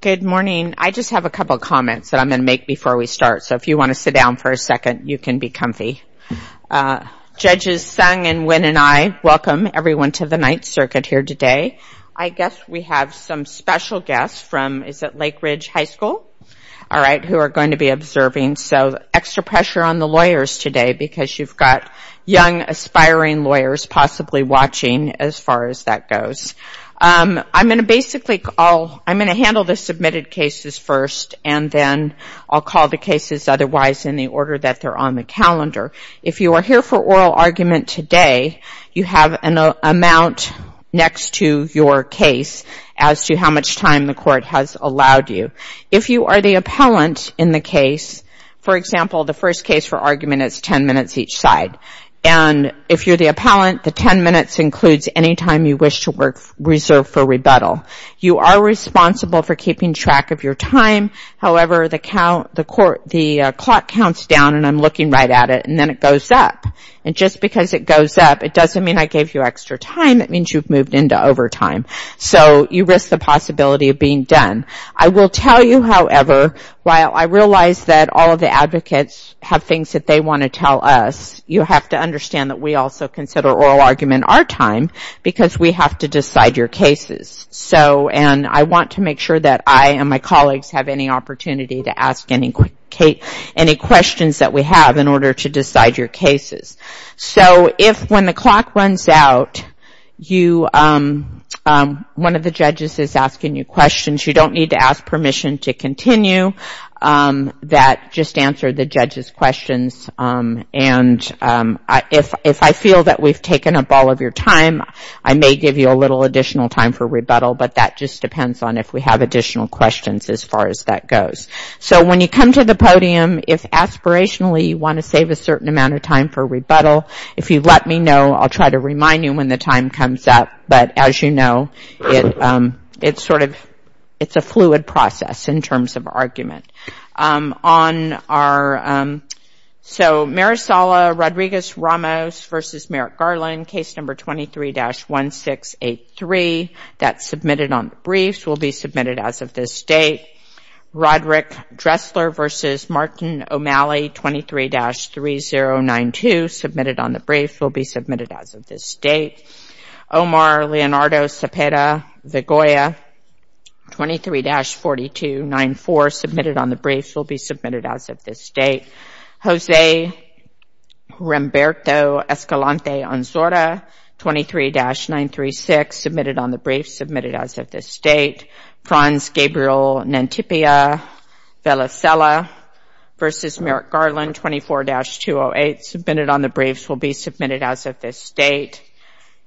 Good morning. I just have a couple of comments that I'm going to make before we start, so if you want to sit down for a second you can be comfy. Judges Sung and Nguyen and I welcome everyone to the Ninth Circuit here today. I guess we have some special guests from, is it Lake Ridge High School? All right, who are going to be observing, so extra pressure on the lawyers today because you've got young aspiring lawyers possibly watching as far as that goes. I'm going to basically, I'm going to handle the submitted cases first and then I'll call the cases otherwise in the order that they're on the calendar. If you are here for oral argument today, you have an amount next to your case as to how much time the court has allowed you. If you are the appellant in the case, for example, the first case for argument is 10 minutes each and if you're the appellant, the 10 minutes includes any time you wish to reserve for rebuttal. You are responsible for keeping track of your time, however, the clock counts down and I'm looking right at it and then it goes up and just because it goes up, it doesn't mean I gave you extra time, it means you've moved into overtime, so you risk the possibility of being done. I will tell you, however, while I realize that all of the advocates have things that they want to tell us, you have to understand that we also consider oral argument our time because we have to decide your cases. I want to make sure that I and my colleagues have any opportunity to ask any questions that we have in order to decide your cases. If when the clock runs out, one of the judges is asking you questions, you don't need to ask permission to continue that, just answer the judge's questions and if I feel that we've taken up all of your time, I may give you a little additional time for rebuttal, but that just depends on if we have additional questions as far as that goes. So when you come to the podium, if aspirationally you want to save a certain amount of time for rebuttal, if you let me know, I'll try to remind you when the time comes up, but as you know, it's a fluid process in terms of argument. So Marisol Rodriguez-Ramos v. Merrick Garland, case number 23-1683, that's submitted on the briefs, will be submitted as of this date. Roderick Dressler v. Martin O'Malley, 23-3092, submitted on the briefs, will be submitted as of this date. Omar Leonardo Cepeda Vigoya, 23-4294, submitted on the briefs, will be submitted as of this date. Jose Humberto Escalante-Onzora, 23-936, submitted on the briefs, submitted as of this date. Franz Gabriel Nantipia Velacella v. Merrick Garland, 24-208, submitted on the briefs, will be submitted as of this date.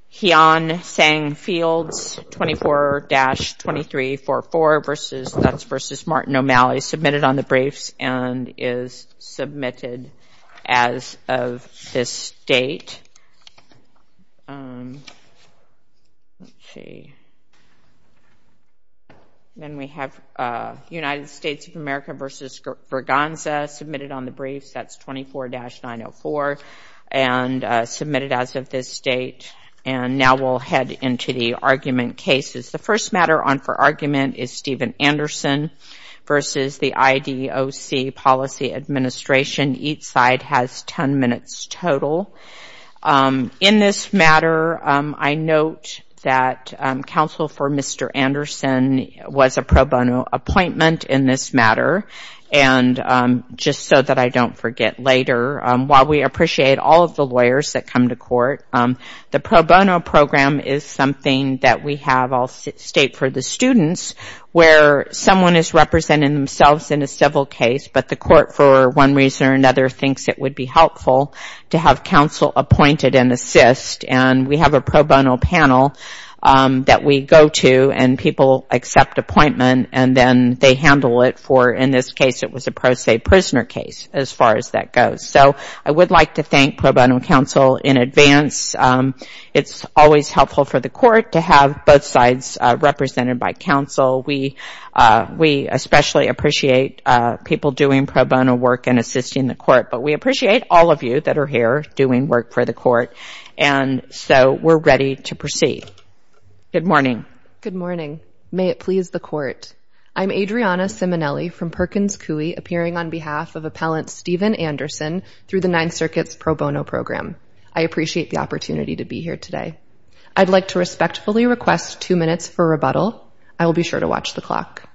Heon Sang Fields, 24-2344, that's versus Martin O'Malley, submitted on the briefs and is submitted as of this date. Then we have United States of America v. Verganza, submitted on the briefs, that's 24-904, and submitted as of this date. And now we'll head into the argument cases. The first matter on for argument is Steven Anderson v. the IDOC Policy Administration. Each side has 10 minutes total. In this matter, I note that counsel for Mr. Anderson was a pro bono appointment in this matter. And just so that I don't forget later, while we appreciate all of the lawyers that come to court, the pro bono program is something that we have, I'll state for the students, where someone is representing themselves in a civil case, but the court for one reason or another thinks it would be helpful to have counsel appointed and assist. And we have a pro bono panel that we go to and people accept appointment and then they handle it for, in this case, it was a pro se prisoner case, as far as that goes. So I would like to thank pro bono counsel in advance. It's always helpful for the court to have both sides represented by counsel. We especially appreciate people doing pro bono work and assisting the court, but we appreciate all of you that are here doing work for the court. And so we're ready to proceed. Good morning. Good morning. May it please the court. I'm Adriana Simonelli from Perkins Coie, appearing on behalf of Appellant Steven Anderson through the Ninth Circuit's pro bono program. I appreciate the opportunity to be here today. I'd like to respectfully request two minutes for rebuttal. I will be sure to watch the clock.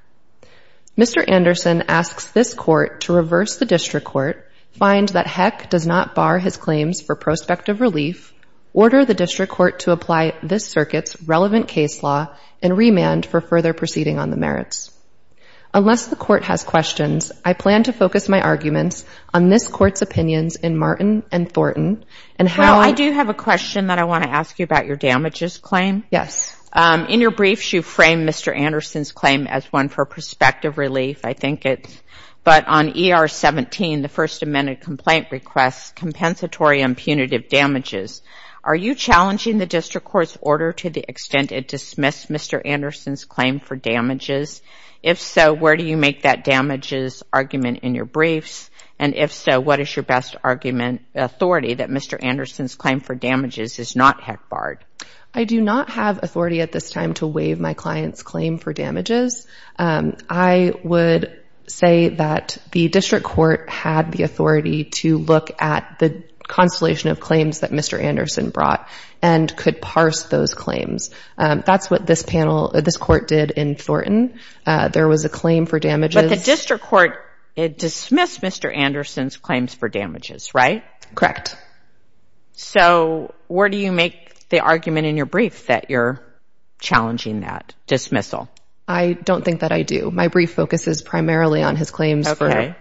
Mr. Anderson asks this court to reverse the district court, find that Heck does not bar his claims for prospective relief, order the district court to apply this circuit's relevant case law, and remand for further proceeding on the merits. Unless the court has questions, I plan to focus my arguments on this court's opinions in Martin and Thornton. Now, I do have a question that I want to ask you about your damages claim. Yes. In your briefs, you frame Mr. Anderson's claim as one for prospective relief. I think it's, but on ER 17, the first amendment complaint requests compensatory and punitive damages. Are you challenging the district court's order to the extent it dismissed Mr. Anderson's claim for damages? If so, where do you make that damages argument in your briefs? And if so, what is your best argument, authority that Mr. Anderson's claim for damages is not Heck barred? I do not have authority at this time to waive my client's claim for damages. I would say that the district court had the authority to look at the constellation of claims that Mr. Anderson brought and could parse those claims. That's what this panel, this court did in Thornton. There was a claim for damages. But the district court, it dismissed Mr. Anderson's claims for damages, right? Correct. So where do you make the argument in your brief that you're challenging that dismissal? I don't think that I do. My brief focuses primarily on his claims for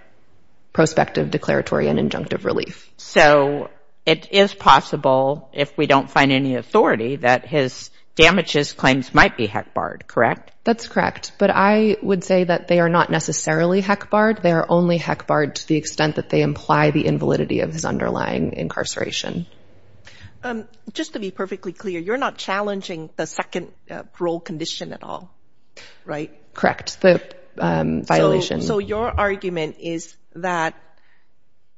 prospective declaratory and injunctive relief. So it is possible if we don't find any authority that his damages claims might be Heck barred, correct? That's correct. But I would say that they are not necessarily Heck barred. They are only Heck barred to the extent that they imply the invalidity of his underlying incarceration. Just to be perfectly clear, you're not challenging the second parole condition at all, right? Correct. So your argument is that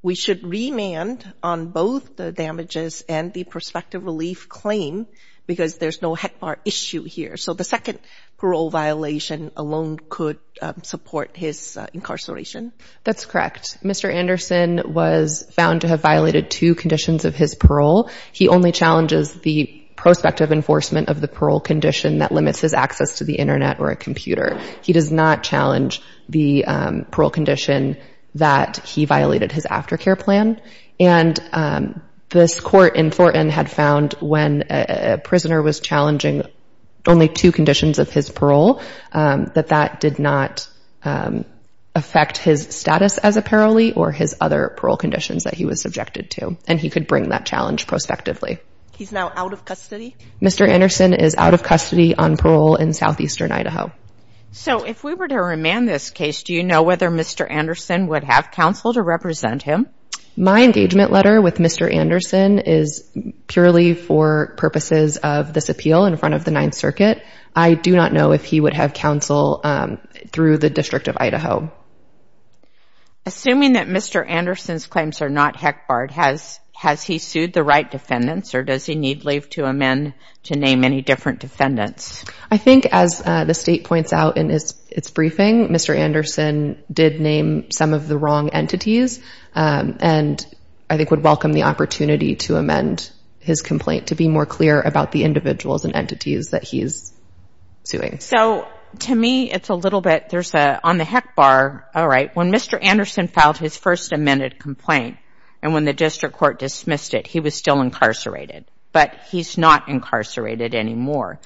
we should remand on both the damages and the prospective relief claim because there's no Heck bar issue here. So the second parole violation alone could support his incarceration? That's correct. Mr. Anderson was found to have violated two conditions of his parole. He only challenges the prospective enforcement of the parole condition that limits his access to the internet or a computer. He does not challenge the parole condition that he violated his aftercare plan. And this court in Thornton had found when a prisoner was challenging only two conditions of his parole that that did not affect his status as a parolee or his other parole conditions that he was subjected to. And he could bring that challenge prospectively. He's now out of custody? Mr. Anderson is out of custody on parole in southeastern Idaho. So if we were to remand this case, do you know whether Mr. Anderson would have counsel to represent him? My engagement letter with Mr. Anderson is purely for purposes of this appeal in front of the Ninth Circuit. I do not know if he would have counsel through the District of Idaho. Assuming that Mr. Anderson's claims are not Heck barred, has he sued the right defendants or does he need leave to amend to name any different defendants? I think as the state points out in its briefing, Mr. Anderson did name some of the wrong entities and I think would welcome the opportunity to amend his complaint to be more clear about the individuals and entities that he's suing. So to me, it's a little bit there's a on the Heck bar. All right. When Mr. Anderson filed his first amended complaint and when the district court dismissed it, he was still incarcerated, but he's not incarcerated anymore.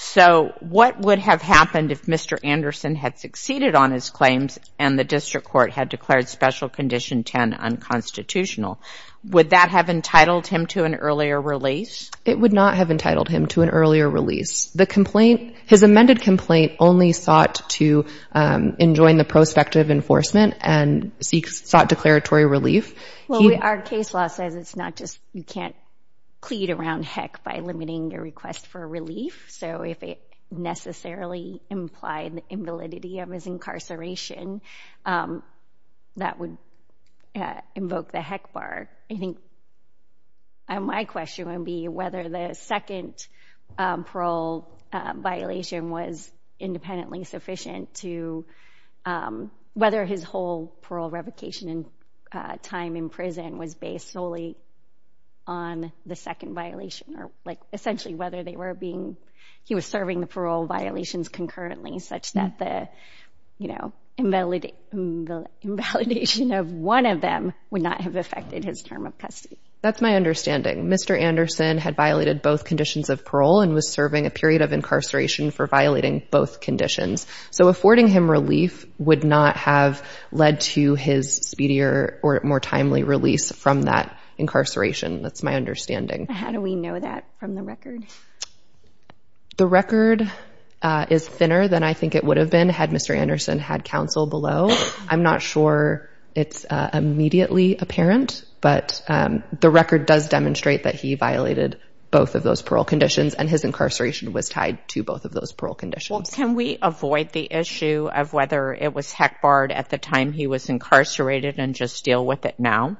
So what would have happened if Mr. Anderson had succeeded on his claims and the district court had declared special condition 10 unconstitutional? Would that have entitled him to an earlier release? It would not have entitled him to an earlier release. The complaint, his amended complaint only sought to enjoin the prospective enforcement and sought declaratory relief. Well, our case law says it's not just you can't plead around Heck by limiting your request for relief. So if it necessarily implied the invalidity of his incarceration, that would invoke the Heck bar. I think my question would be whether the second parole violation was independently sufficient to whether his whole parole revocation and time in prison was based solely on the second violation or like essentially whether they were being he was serving the parole violations concurrently such that the invalid the invalidation of one of them would not have affected his term of custody. That's my understanding. Mr. Anderson was serving a period of incarceration for violating both conditions. So affording him relief would not have led to his speedier or more timely release from that incarceration. That's my understanding. How do we know that from the record? The record is thinner than I think it would have been had Mr. Anderson had counsel below. I'm not sure it's immediately apparent, but the record does demonstrate that he violated both of those parole conditions and his incarceration was tied to both of those parole conditions. Can we avoid the issue of whether it was Heck barred at the time he was incarcerated and just deal with it now?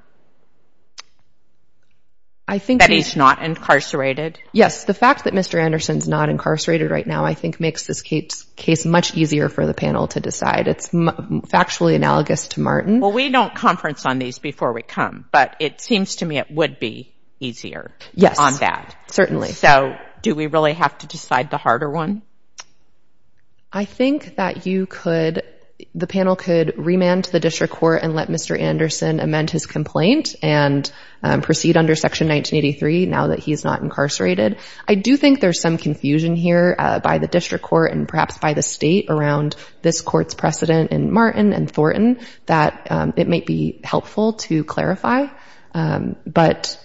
I think that he's not incarcerated. Yes, the fact that Mr. Anderson's not incarcerated right now I think makes this case much easier for the panel to decide. It's factually analogous to Martin. Well, we don't conference on these before we come, but it seems to me it would be easier on that. Certainly. So do we really have to decide the harder one? I think that the panel could remand to the district court and let Mr. Anderson amend his complaint and proceed under section 1983 now that he's not incarcerated. I do think there's some confusion here by the district court and perhaps by the state around this court's precedent in Martin and Thornton that it might be helpful to clarify. Well,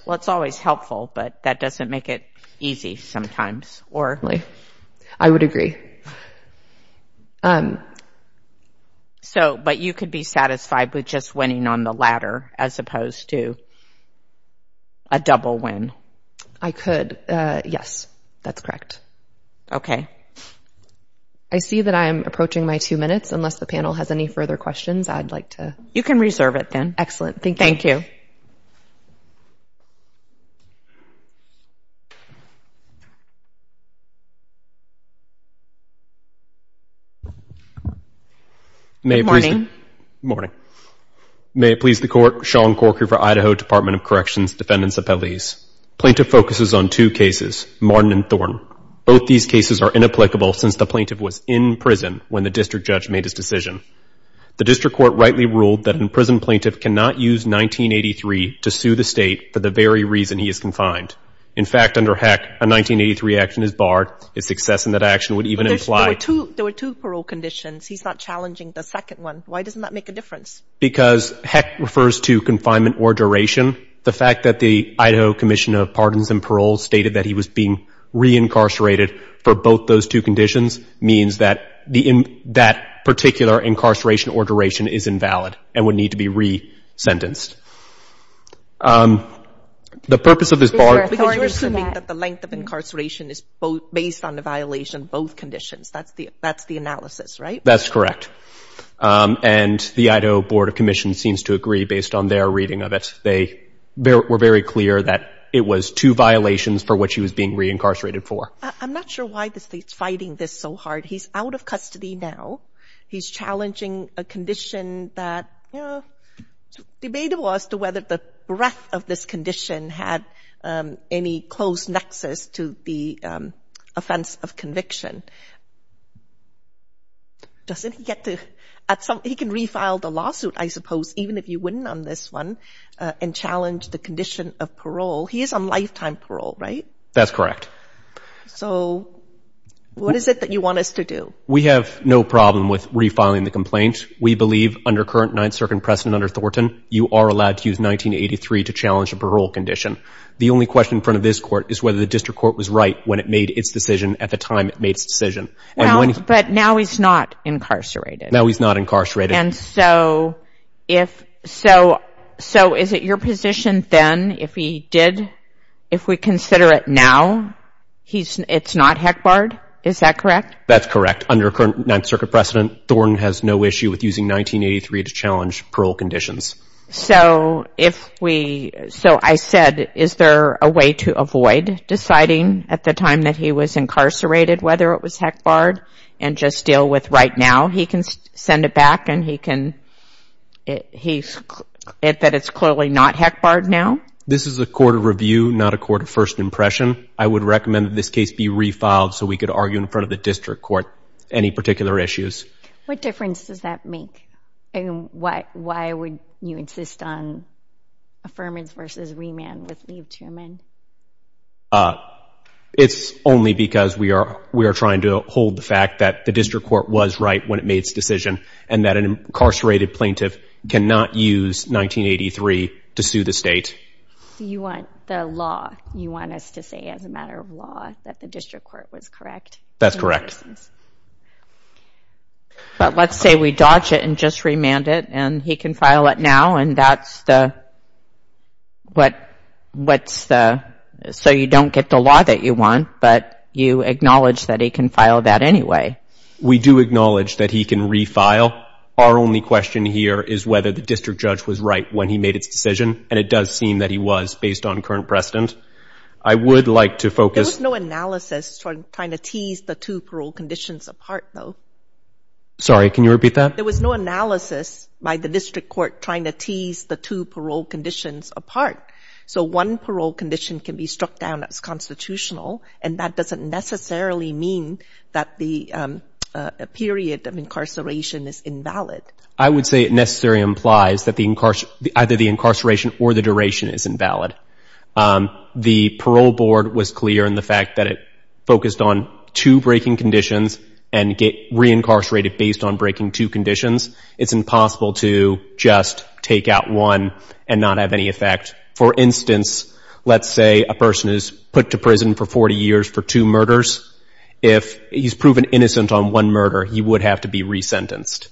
it's always helpful, but that doesn't make it easy sometimes. I would agree. But you could be satisfied with just winning on the ladder as opposed to a double win? I could. Yes, that's correct. Okay. I see that I am approaching my two minutes. Unless the panel has any further questions, I'd like to... You can reserve it then. Excellent. Thank you. Good morning. Good morning. May it please the Court, Sean Corker for Idaho Department of Corrections, Defendants Appellees. Plaintiff focuses on two cases, Martin and Thornton. Both these cases are inapplicable since the plaintiff was in prison when the district judge made his decision. The district court rightly ruled that an imprisoned plaintiff cannot use 1983 to sue the state for the very reason he is confined. In fact, under HEC, a 1983 action is barred. Its success in that action would even imply... There were two parole conditions. He's not challenging the second one. Why doesn't that make a difference? Because HEC refers to confinement or duration. The fact that the Idaho Commission of Pardons and Paroles stated that he was being re-incarcerated for both those two conditions means that that particular incarceration or duration is invalid and would need to be re-sentenced. The purpose of this bar... Because you're assuming that the length of incarceration is based on the violation of both conditions. That's the analysis, right? That's correct. And the Idaho Board of Commission seems to agree based on their reading of it. They were very clear that it was two violations for which he was being re-incarcerated for. I'm not sure why the state's fighting this so hard. He's out of custody now. He's challenging a condition that... It's debatable as to whether the breadth of this condition had any close nexus to the offense of conviction. Doesn't he get to... He can refile the lawsuit, I suppose, even if you wouldn't on this one, and challenge the condition of parole. He is on lifetime parole, right? That's correct. So what is it that you want us to do? We have no problem with refiling the complaint. We believe under current Ninth Circuit precedent under Thornton, you are allowed to use 1983 to challenge a parole condition. The only question in front of this court is whether the district court was right when it made its decision at the time it made its decision. But now he's not incarcerated. Now he's not incarcerated. And so is it your position then if we consider it now, it's not HECBARD? Is that correct? That's correct. Under current Ninth Circuit precedent, Thornton has no issue with using 1983 to challenge parole conditions. So I said, is there a way to avoid deciding at the time that he was incarcerated whether it was HECBARD and just deal with right now? He can send it back and he can... That it's clearly not HECBARD now? This is a court of review, not a court of first impression. I would recommend that this case be refiled so we could argue in front of the district court any particular issues. What difference does that make? Why would you insist on affirmance versus remand with Liev Thurman? It's only because we are trying to hold the fact that the district court was right when it made its decision and that an incarcerated plaintiff cannot use 1983 to sue the state. You want the law, you want us to say as a matter of law that the district court was correct? That's correct. But let's say we dodge it and just remand it and he can file it now and that's the... So you don't get the law that you want, but you acknowledge that he can file that anyway. We do acknowledge that he can refile. Our only question here is whether the district judge was right when he made its decision and it does seem that he was based on current precedent. I would like to focus... There was no analysis for trying to tease the two parole conditions apart though. Sorry, can you repeat that? There was no analysis by the district court trying to tease the two parole conditions apart. So one parole condition can be struck down as constitutional and that doesn't necessarily mean that the period of incarceration is invalid. I would say it necessarily implies that either the incarceration or the duration is invalid. The parole board was clear in the fact that it focused on two breaking conditions and get reincarcerated based on breaking two conditions. It's impossible to just take out one and not have any effect. For instance, let's say a person is put to prison for 40 years for two murders. If he's proven innocent on one murder, he would have to be resentenced.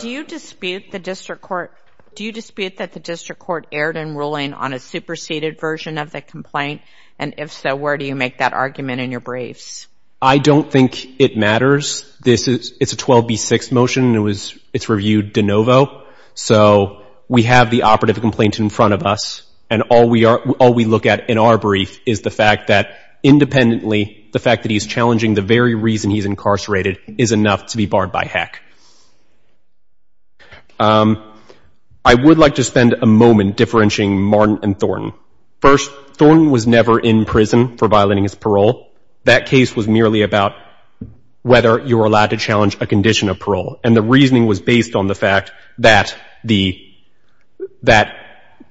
Do you dispute that the district court erred in ruling on a superseded version of the complaint? And if so, where do you make that argument in your briefs? I don't think it matters. It's a 12B6 motion. It's reviewed de novo. So we have the operative complaint in front of us. And all we look at in our brief is the fact that independently, the fact that he's challenging the very reason he's incarcerated is enough to be barred by HEC. I would like to spend a moment differentiating Martin and Thornton. First, Thornton was never in prison for violating his parole. That case was merely about whether you were allowed to challenge a condition of parole. And the reasoning was based on the fact that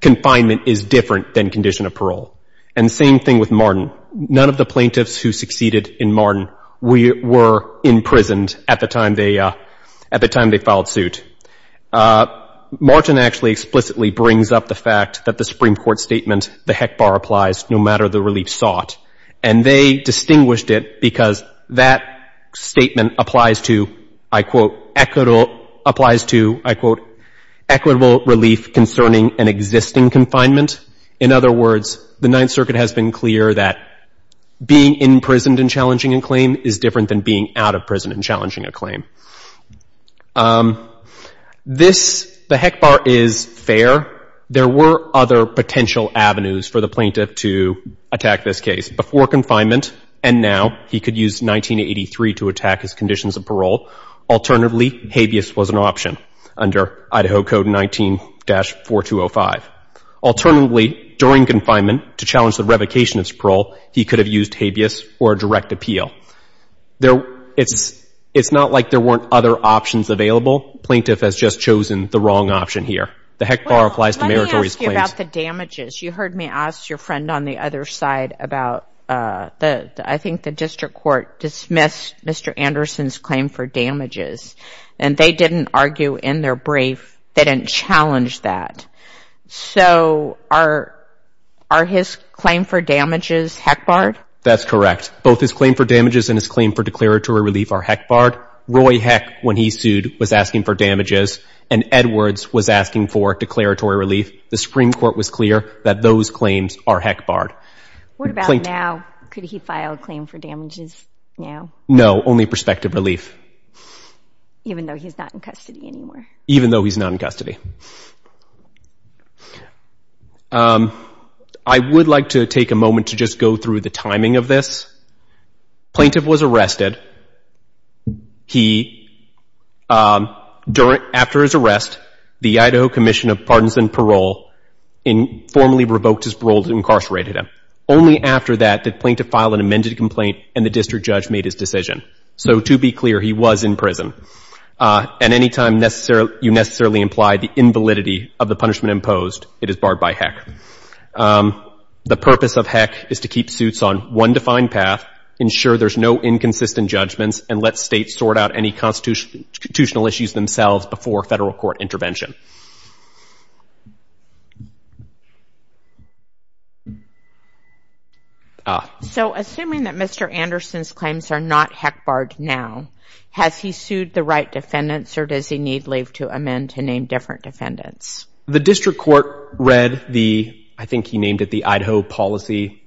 confinement is different than condition of parole. And same thing with Martin. None of the plaintiffs who succeeded in Martin were imprisoned at the time they filed suit. Martin actually explicitly brings up the fact that the Supreme Court statement, the HEC bar applies no matter the relief sought. And they distinguished it because that statement applies to, I quote, applies to, I quote, equitable relief concerning an existing confinement. In other words, the Ninth Circuit has been clear that being imprisoned and challenging a claim is different than being out of prison and challenging a claim. This, the HEC bar is fair. There were other potential avenues for the plaintiff to attack this case. Before confinement, and now, he could use 1983 to attack his conditions of parole. Alternatively, habeas was an option under Idaho Code 19-4205. Alternatively, during confinement, to challenge the revocation of his parole, he could have used habeas or a direct appeal. It's not like there weren't other options available. Plaintiff has just chosen the wrong option here. The HEC bar applies to meritorious claims. Let me ask you about the damages. You heard me ask your friend on the other side about, I think the district court dismissed Mr. Anderson's claim for damages. And they didn't argue in their brief. They didn't challenge that. So are his claim for damages HEC barred? That's correct. Both his claim for damages and his claim for declaratory relief are HEC barred. Roy HEC, when he sued, was asking for damages. And Edwards was asking for declaratory relief. The Supreme Court was clear that those claims are HEC barred. What about now? Could he file a claim for damages now? No, only prospective relief. Even though he's not in custody anymore? Even though he's not in custody. I would like to take a moment to just go through the timing of this. Plaintiff was arrested. He, after his arrest, the Idaho Commission of Pardons and Parole formally revoked his parole and incarcerated him. Only after that did plaintiff file an amended complaint, and the district judge made his decision. So to be clear, he was in prison. And any time you necessarily imply the invalidity of the punishment imposed, it is barred by HEC. The purpose of HEC is to keep suits on one defined path, ensure there's no inconsistent judgments, and let states sort out any constitutional issues themselves before federal court intervention. So assuming that Mr. Anderson's claims are not HEC barred now, has he sued the right defendants, or does he need leave to amend to name different defendants? The district court read the, I think he named it the Idaho policy.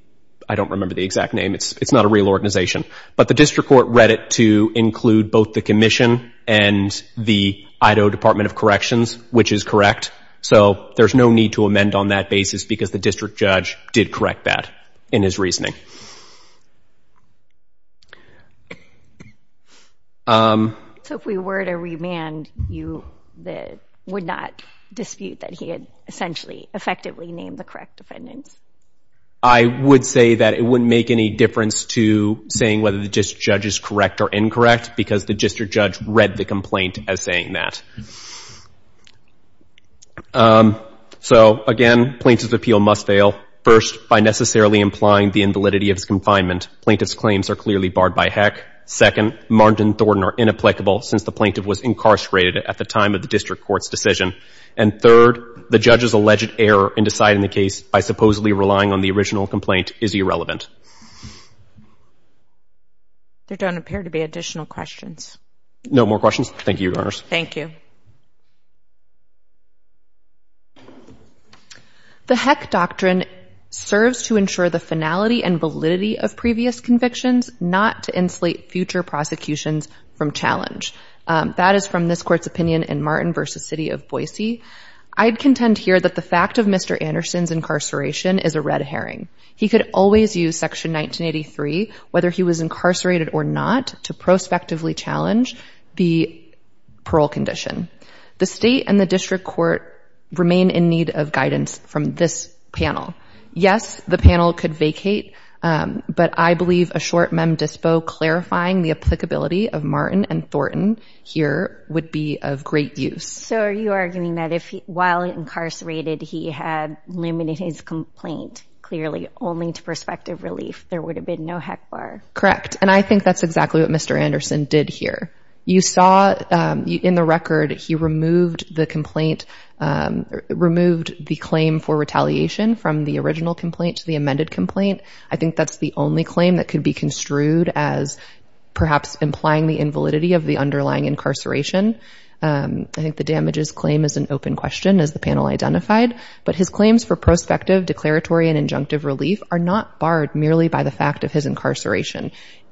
I don't remember the exact name. It's not a real organization. But the district court read it to include both the commission and the Idaho Department of Corrections, which is correct. So there's no need to amend on that basis because the district judge did correct that in his reasoning. So if we were to remand, you would not dispute that he had essentially effectively named the correct defendants? I would say that it wouldn't make any difference to saying whether the district judge is correct or incorrect because the district judge read the complaint as saying that. So again, plaintiff's appeal must fail. First, by necessarily implying the invalidity of his confinement, plaintiff's claims are clearly barred by HEC. Second, Martin and Thornton are inapplicable since the plaintiff was incarcerated at the time of the district court's decision. And third, the judge's alleged error in deciding the case by supposedly relying on the original complaint is irrelevant. There don't appear to be additional questions. No more questions. Thank you, Your Honors. Thank you. The HEC doctrine serves to ensure the finality and validity of previous convictions, not to insulate future prosecutions from challenge. That is from this court's opinion in Martin v. City of Boise. I'd contend here that the fact of Mr. Anderson's incarceration is a red herring. He could always use Section 1983, whether he was incarcerated or not, to prospectively challenge the parole condition. The state and the district court remain in need of guidance from this panel. Yes, the panel could vacate, but I believe a short mem dispo clarifying the applicability of Martin and Thornton here would be of great use. So are you arguing that if while incarcerated, he had limited his complaint clearly only to prospective relief, there would have been no HEC bar? Correct. And I think that's exactly what Mr. Anderson did here. You saw in the record, he removed the complaint, removed the claim for retaliation from the original complaint to the amended complaint. I think that's the only claim that could be construed as perhaps implying the invalidity of the underlying incarceration. I think the damages claim is an open question, as the panel identified, but his claims for prospective declaratory and injunctive relief are not barred merely by the fact of his incarceration.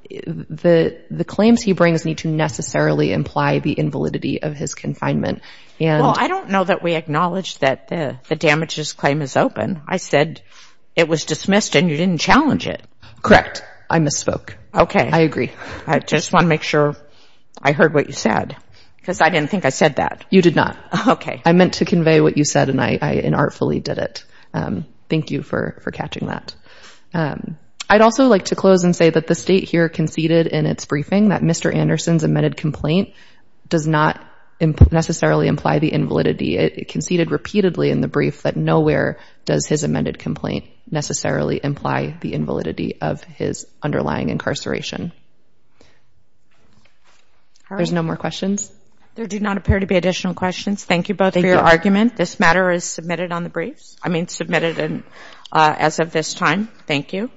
The claims he brings need to necessarily imply the invalidity of his confinement. Well, I don't know that we acknowledge that the damages claim is open. I said it was dismissed and you didn't challenge it. Correct. I misspoke. Okay. I agree. I just want to make sure I heard what you said. Because I didn't think I said that. You did not. I meant to convey what you said and I artfully did it. Thank you for catching that. I'd also like to close and say that the state here conceded in its briefing that Mr. Anderson's amended complaint does not necessarily imply the invalidity. It conceded repeatedly in the brief that nowhere does his amended complaint necessarily imply the invalidity of his underlying incarceration. There's no more questions? There do not appear to be additional questions. Thank you both for your argument. This matter is submitted on the briefs. I mean submitted as of this time. Thank you.